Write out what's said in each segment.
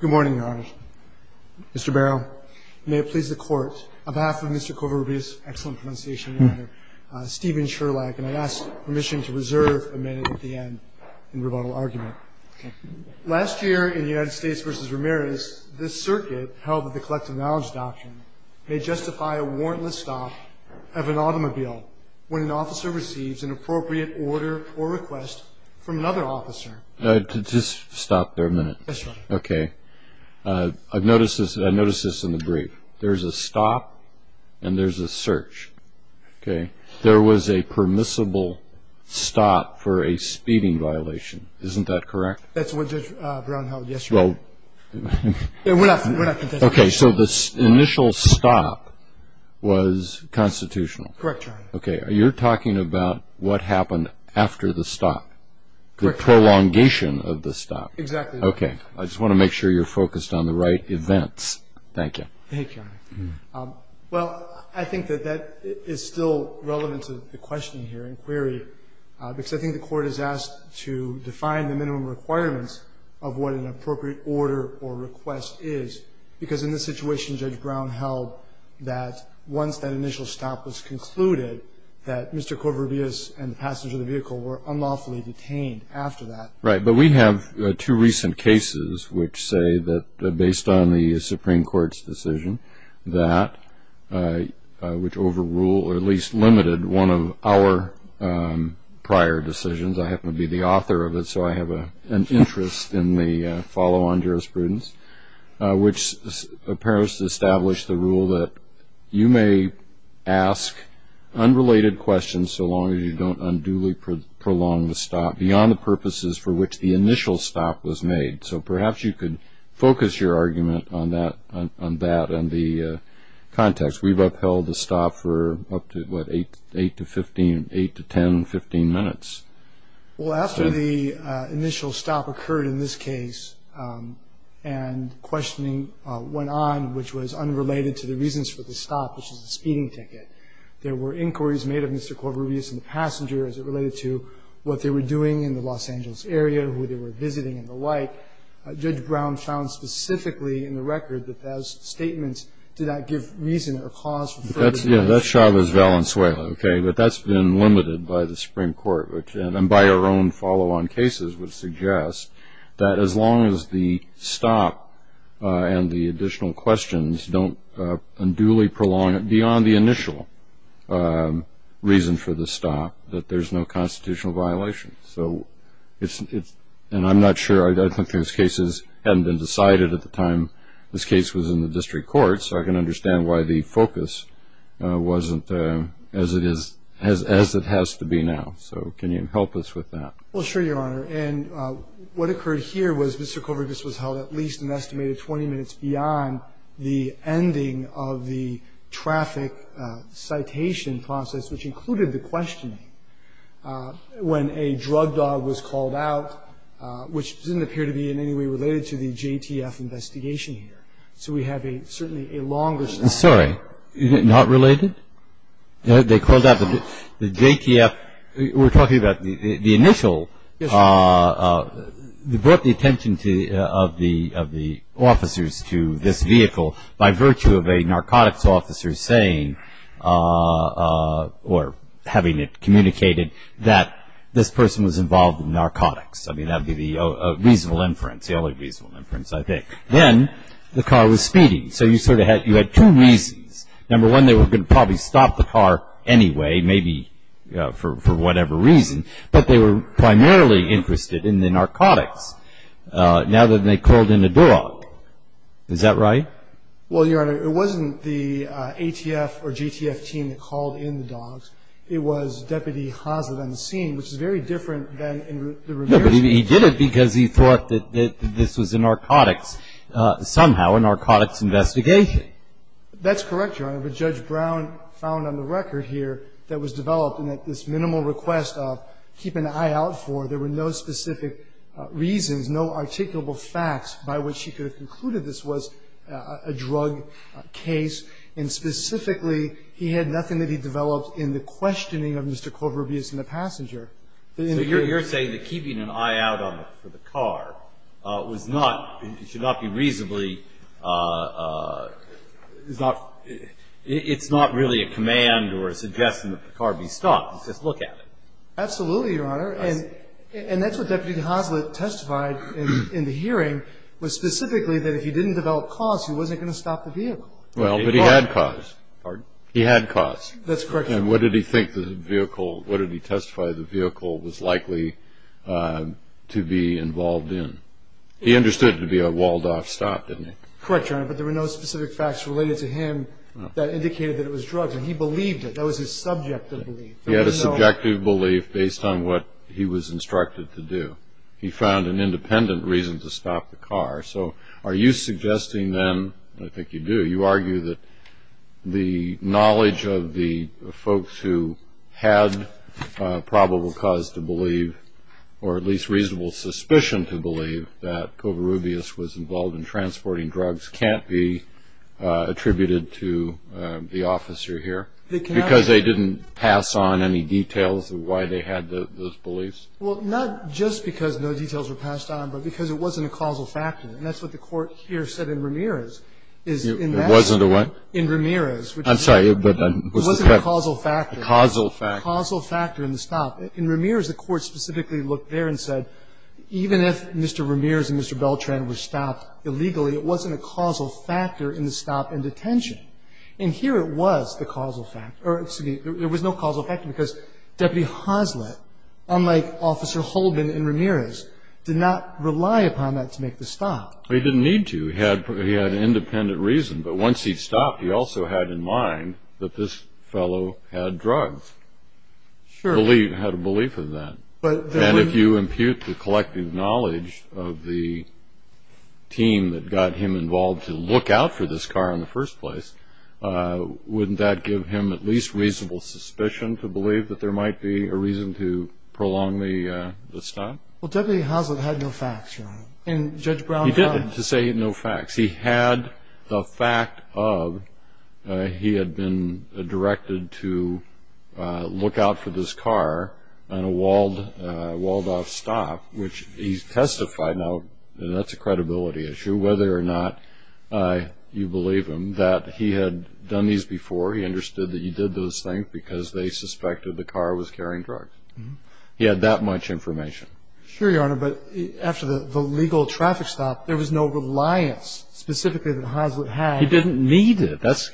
Good morning, Your Honor. Mr. Barrow, may it please the Court, on behalf of Mr. Covarrubias, excellent pronunciation, and Stephen Sherlach, and I ask permission to reserve a minute at the end in rebuttal argument. Last year in United States v. Ramirez, this circuit, held with the Collective Knowledge Doctrine, may justify a warrantless stop of an automobile when an officer receives an appropriate order or request from another officer. Just stop there a minute. I've noticed this in the brief. There's a stop and there's a search. There was a permissible stop for a speeding violation. Isn't that correct? Okay, so the initial stop was constitutional? Correct, Your Honor. Okay, you're talking about what happened after the stop, the prolongation of the stop. Exactly. Okay, I just want to make sure you're focused on the right events. Thank you. Thank you, Your Honor. Well, I think that that is still relevant to the question here in query, because I think the Court is asked to define the minimum requirements of what an appropriate order or request is, because in this situation Judge Brown held that once that initial stop was concluded, that Mr. Covarrubias and the passenger of the vehicle were unlawfully detained after that. Right, but we have two recent cases which say that, based on the Supreme Court's decision, that which overrule or at least limited one of our prior decisions. I happen to be the author of it, so I have an interest in the follow-on jurisprudence, which appears to establish the rule that you may ask unrelated questions so long as you don't unduly prolong the stop beyond the purposes for which the initial stop was made. So perhaps you could focus your argument on that and the context. We've upheld the stop for up to, what, 8 to 10, 15 minutes. Well, after the initial stop occurred in this case and questioning went on, which was unrelated to the reasons for the stop, which is the speeding ticket, there were inquiries made of Mr. Covarrubias and the passenger as it related to what they were doing in the Los Angeles area, who they were visiting, and the like. Judge Brown found specifically in the record that those charges were unrelated. That's Chavez-Valenzuela, but that's been limited by the Supreme Court, which, and by our own follow-on cases, would suggest that as long as the stop and the additional questions don't unduly prolong it beyond the initial reason for the stop, that there's no constitutional violation. And I'm not sure. I think those cases hadn't been decided at the time this case was in the district court, so I can understand why the focus wasn't as it has to be now. So can you help us with that? Well, sure, Your Honor. And what occurred here was Mr. Covarrubias was held at least an estimated 20 minutes beyond the ending of the traffic citation process, which included the questioning, when a drug dog was called out, which didn't appear to be in any way related to the JTF investigation here. So we have certainly a longer story. I'm sorry. Not related? They called out the JTF. We're talking about the initial. Yes, Your Honor. They brought the attention of the officers to this vehicle by virtue of a narcotics officer saying, or having it communicated, that this was a reasonable inference, the only reasonable inference, I think. Then the car was speeding. So you sort of had two reasons. Number one, they were going to probably stop the car anyway, maybe for whatever reason, but they were primarily interested in the narcotics now that they called in a dog. Is that right? Well, Your Honor, it wasn't the ATF or JTF team that called in the dogs. It was Deputy Hazard on the scene, which is very different than the JTF team. He did it because he thought that this was a narcotics, somehow a narcotics investigation. That's correct, Your Honor. But Judge Brown found on the record here that was developed, and that this minimal request of keep an eye out for, there were no specific reasons, no articulable facts by which she could have concluded this was a drug case. And specifically, he had nothing that he developed in the questioning of Mr. Clover Abias and the passenger. So you're saying that keeping an eye out for the car was not, it should not be reasonably, it's not really a command or a suggestion that the car be stopped. It's just look at it. Absolutely, Your Honor. And that's what Deputy Hazard testified in the hearing, was specifically that if he didn't develop cause, he wasn't going to stop the vehicle. Well, but he had cause. Pardon? He had cause. That's correct, Your Honor. And what did he think the vehicle, what did he testify the vehicle was likely to be involved in? He understood it to be a walled off stop, didn't he? Correct, Your Honor. But there were no specific facts related to him that indicated that it was drugs. And he believed it. That was his subjective belief. He had a subjective belief based on what he was instructed to do. He found an independent reason to stop the car. So are you suggesting then, I think you do, you argue that the knowledge of the folks who had probable cause to believe, or at least reasonable suspicion to believe, that Covarrubias was involved in transporting drugs can't be attributed to the officer here? Because they didn't pass on any details of why they had those beliefs? Well, not just because no details were passed on, but because it wasn't a causal factor. And that's what the court here said in Ramirez. It wasn't a what? In Ramirez. I'm sorry, but it wasn't a causal factor. Causal factor. Causal factor in the stop. In Ramirez, the court specifically looked there and said, even if Mr. Ramirez and Mr. Beltran were stopped illegally, it wasn't a causal factor in the stop and detention. And here it was the causal factor. Or excuse me, there was no causal factor because Deputy Hoslett, unlike Officer Holbin in Ramirez, did not rely upon that to make the stop. He didn't need to. He had an independent reason. But once he stopped, he also had in mind that this fellow had drugs. Sure. Had a belief in that. And if you impute the collective knowledge of the team that got him involved to look out for this car in the first place, wouldn't that give him at least reasonable suspicion to believe that there might be a reason to prolong the stop? Well, Deputy Hoslett had no facts, Your Honor. And Judge Brown... To say no facts. He had the fact of he had been directed to look out for this car on a walled-off stop, which he testified, now that's a credibility issue, whether or not you believe him, that he had done these before. He understood that he did those things because they suspected the car was carrying drugs. He had that much information. Sure, Your Honor. But after the legal traffic stop, there was no reliance, specifically, that Hoslett had. He didn't need it. That's...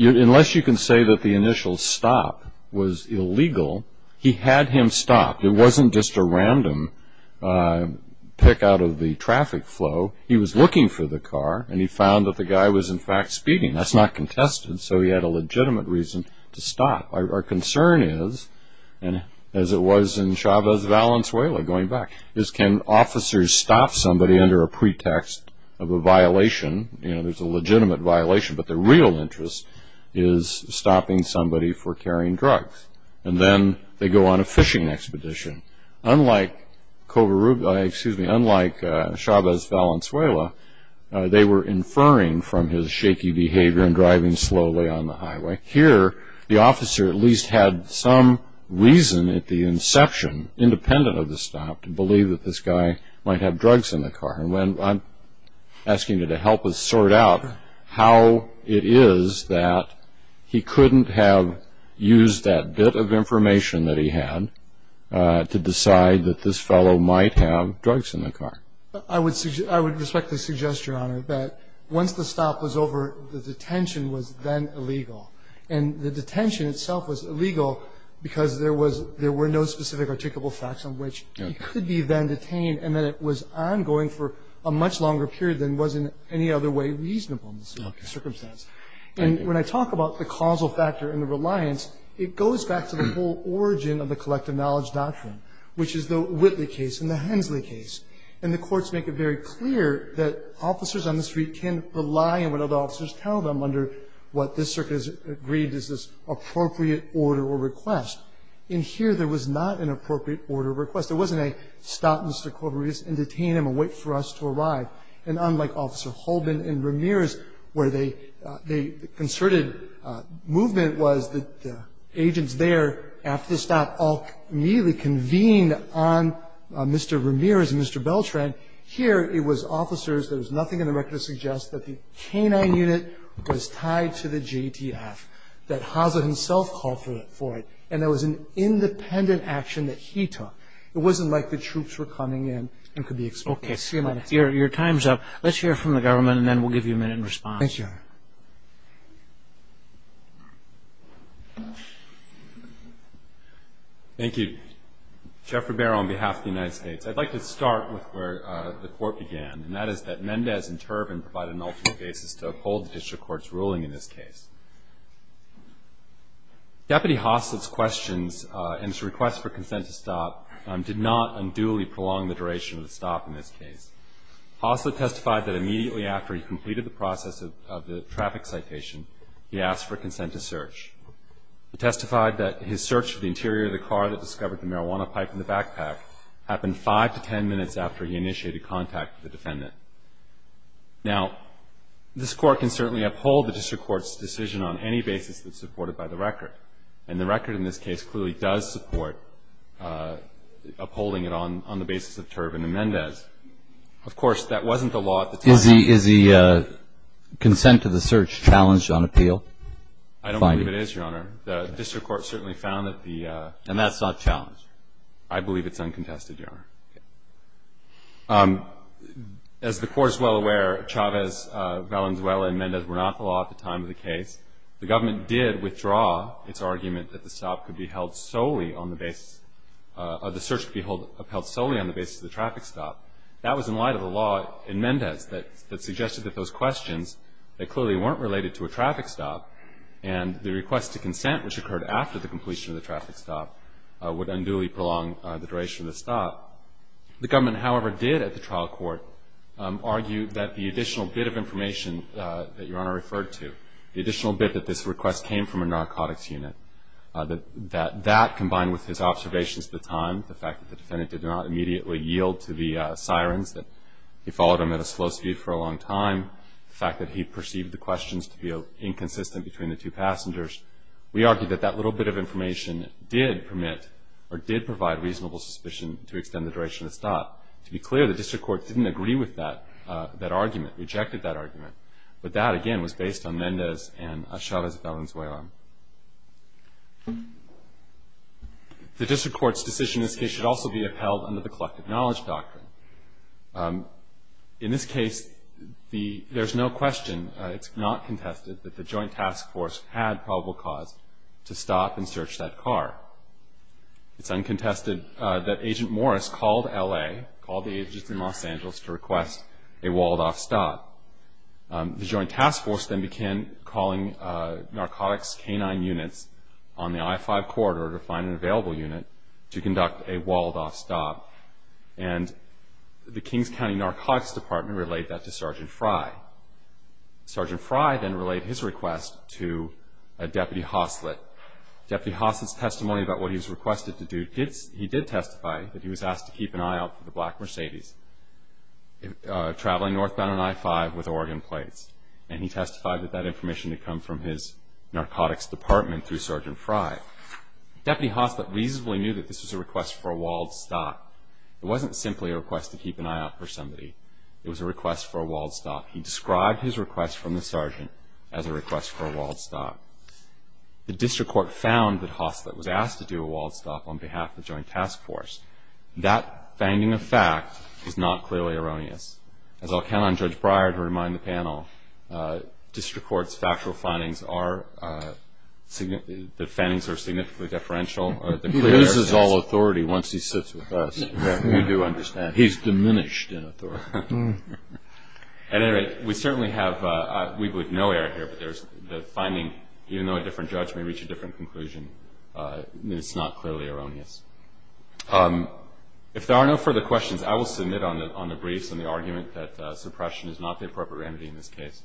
Unless you can say that the initial stop was illegal, he had him stop. It wasn't just a random pick out of the traffic flow. He was looking for the car, and he found that the guy was, in fact, speeding. That's not contested. So he had a legitimate reason to stop. Our concern is, as it was in Chavez Valenzuela, going back, is can officers stop somebody under a pretext of a violation? You know, there's a legitimate violation, but the real interest is stopping somebody for carrying drugs. And then they go on a fishing expedition. Unlike Chavez Valenzuela, they were inferring from his shaky behavior and driving slowly on the highway. Here, the officer at least had some reason at the inception, independent of the stop, to believe that this guy might have drugs in the car. And I'm asking you to help us sort out how it is that he couldn't have used that bit of information that he had to decide that this fellow might have drugs in the car. I would respectfully suggest, Your Honor, that once the stop was over, the detention was then illegal. And the detention itself was illegal because there were no specific articulable facts on which he could be then detained, and that it was ongoing for a much longer period than was in any other way reasonable in this circumstance. And when I talk about the causal factor and the reliance, it goes back to the whole origin of the collective knowledge doctrine, which is the courts make it very clear that officers on the street can rely on what other officers tell them under what this circuit has agreed is this appropriate order or request. In here, there was not an appropriate order or request. There wasn't a, stop Mr. Corberius and detain him and wait for us to arrive. And unlike Officer Holman and Ramirez, where they concerted movement was agents there after the stop all immediately convened on Mr. Ramirez and Mr. Beltran. Here, it was officers. There was nothing in the record to suggest that the canine unit was tied to the JTF, that Haase himself called for it. And that was an independent action that he took. It wasn't like the troops were coming in and could be exposed. Okay. Your time's up. Let's hear from the government and then we'll give you a minute response. Thank you, Your Honor. Thank you. Geoffrey Barrow on behalf of the United States. I'd like to start with where the court began, and that is that Mendez and Turbin provided an ultimate basis to uphold the district court's ruling in this case. Deputy Haas's questions and his request for consent to stop did not unduly prolong the duration of the stop in this case. Haas had testified that he completed the process of the traffic citation. He asked for consent to search. He testified that his search of the interior of the car that discovered the marijuana pipe in the backpack happened five to ten minutes after he initiated contact with the defendant. Now, this court can certainly uphold the district court's decision on any basis that's supported by the record. And the record in this case clearly does support upholding it on the basis of Turbin and Mendez. Of course, that wasn't the law at the time. Is the consent to the search challenged on appeal? I don't believe it is, Your Honor. The district court certainly found that the – And that's not challenged? I believe it's uncontested, Your Honor. As the Court is well aware, Chavez, Valenzuela, and Mendez were not the law at the time of the case. The government did withdraw its argument that the stop could be held solely on the basis – or the search could be held solely on the basis of the traffic stop. That was in light of the law in Mendez that suggested that those questions, they clearly weren't related to a traffic stop. And the request to consent, which occurred after the completion of the traffic stop, would unduly prolong the duration of the stop. The government, however, did at the trial court argue that the additional bit of information that Your Honor referred to, the additional bit that this request came from a narcotics unit, that that combined with his observations at the time, the fact that the defendant did not immediately yield to the sirens, that he followed them at a slow speed for a long time, the fact that he perceived the questions to be inconsistent between the two passengers, we argue that that little bit of information did permit or did provide reasonable suspicion to extend the duration of the stop. To be clear, the district court didn't agree with that argument, rejected that argument. But that, again, was based on Mendez and Chavez Valenzuela. The district court's decision in this case should also be upheld under the collective knowledge doctrine. In this case, there's no question, it's not contested, that the joint task force had probable cause to stop and search that car. It's uncontested that Agent Morris called LA, called the agents in Los Angeles to request a walled-off stop. The joint task force then began calling narcotics canine units on the I-5 corridor to find an available unit to conduct a walled-off stop. And the Kings County Narcotics Department relayed that to Sergeant Fry. Sergeant Fry then relayed his request to Deputy Hoslet. Deputy Hoslet's testimony about what he was requested to do, he did testify that he was asked to keep an eye out for the black Mercedes traveling northbound on I-5 with Oregon plates. And he testified that that information had come from his narcotics department through Sergeant Fry. Deputy Hoslet reasonably knew that this was a request for a walled stop. It wasn't simply a request to keep an eye out for somebody. It was a request for a walled stop. He described his request from the sergeant as a request for a walled stop. The district court found that Hoslet was asked to do a walled stop on behalf of the As I'll count on Judge Breyer to remind the panel, district court's factual findings are that the findings are significantly deferential. He loses all authority once he sits with us. You do understand. He's diminished in authority. At any rate, we certainly have no error here, but the finding, even though a different judge may reach a different conclusion, it's not clearly erroneous. If there are no further questions, I will submit on the briefs on the argument that suppression is not the appropriate remedy in this case.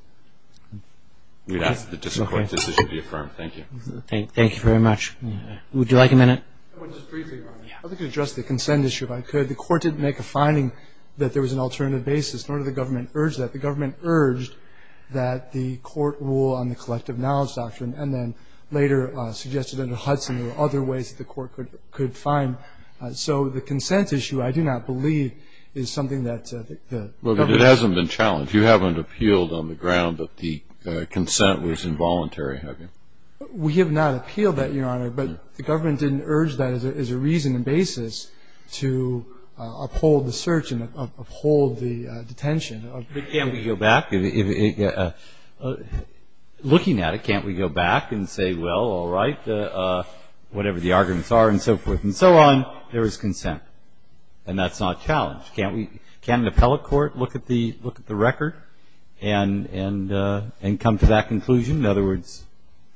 We'd ask that the district court's decision be affirmed. Thank you. Thank you very much. Would you like a minute? Just briefly, Your Honor. I'd like to address the consent issue, if I could. The court didn't make a finding that there was an alternative basis, nor did the government urge that. The government urged that the court rule on the collective knowledge doctrine and then later suggested there were other ways that the court could find. So the consent issue, I do not believe, is something that the government... It hasn't been challenged. You haven't appealed on the ground that the consent was involuntary, have you? We have not appealed that, Your Honor, but the government didn't urge that as a reason and basis to uphold the search and uphold the detention. Can't we go back? Looking at it, can't we go back and say, well, all right, whatever the arguments are and so forth and so on, there is consent? And that's not challenged. Can't an appellate court look at the record and come to that conclusion? In other words,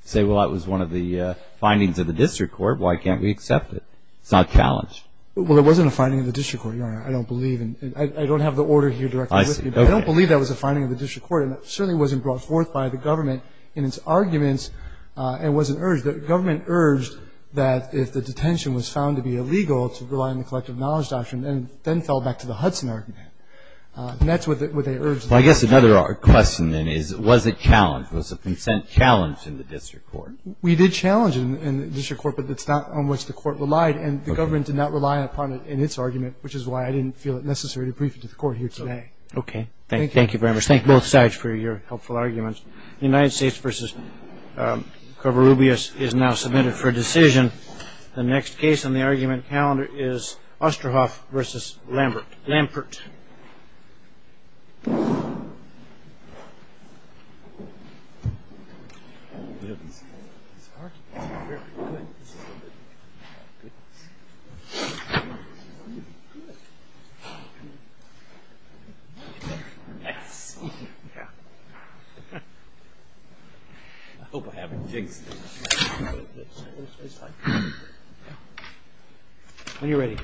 say, well, that was one of the findings of the district court. Why can't we accept it? It's not challenged. Well, it wasn't a finding of the district court, Your Honor. I don't believe. I don't have the order here directly with me. I don't believe that was a finding of the district court and it certainly wasn't brought forth by the government in its arguments and wasn't urged. The government urged that if the detention was found to be illegal to rely on the collective knowledge doctrine and then fell back to the Hudson argument. And that's what they urged. Well, I guess another question then is, was it challenged? Was the consent challenged in the district court? We did challenge it in the district court, but that's not on which the court relied and the government did not rely upon it in its argument, which is why I didn't feel it necessary to brief it to the court here today. Okay. Thank you very much. Thank you both sides for your helpful arguments. The United States versus Covarrubias is now submitted for a decision. The next case on the argument calendar is Osterhoff versus Lampert. Yes. I hope I haven't jinxed it. When you're ready.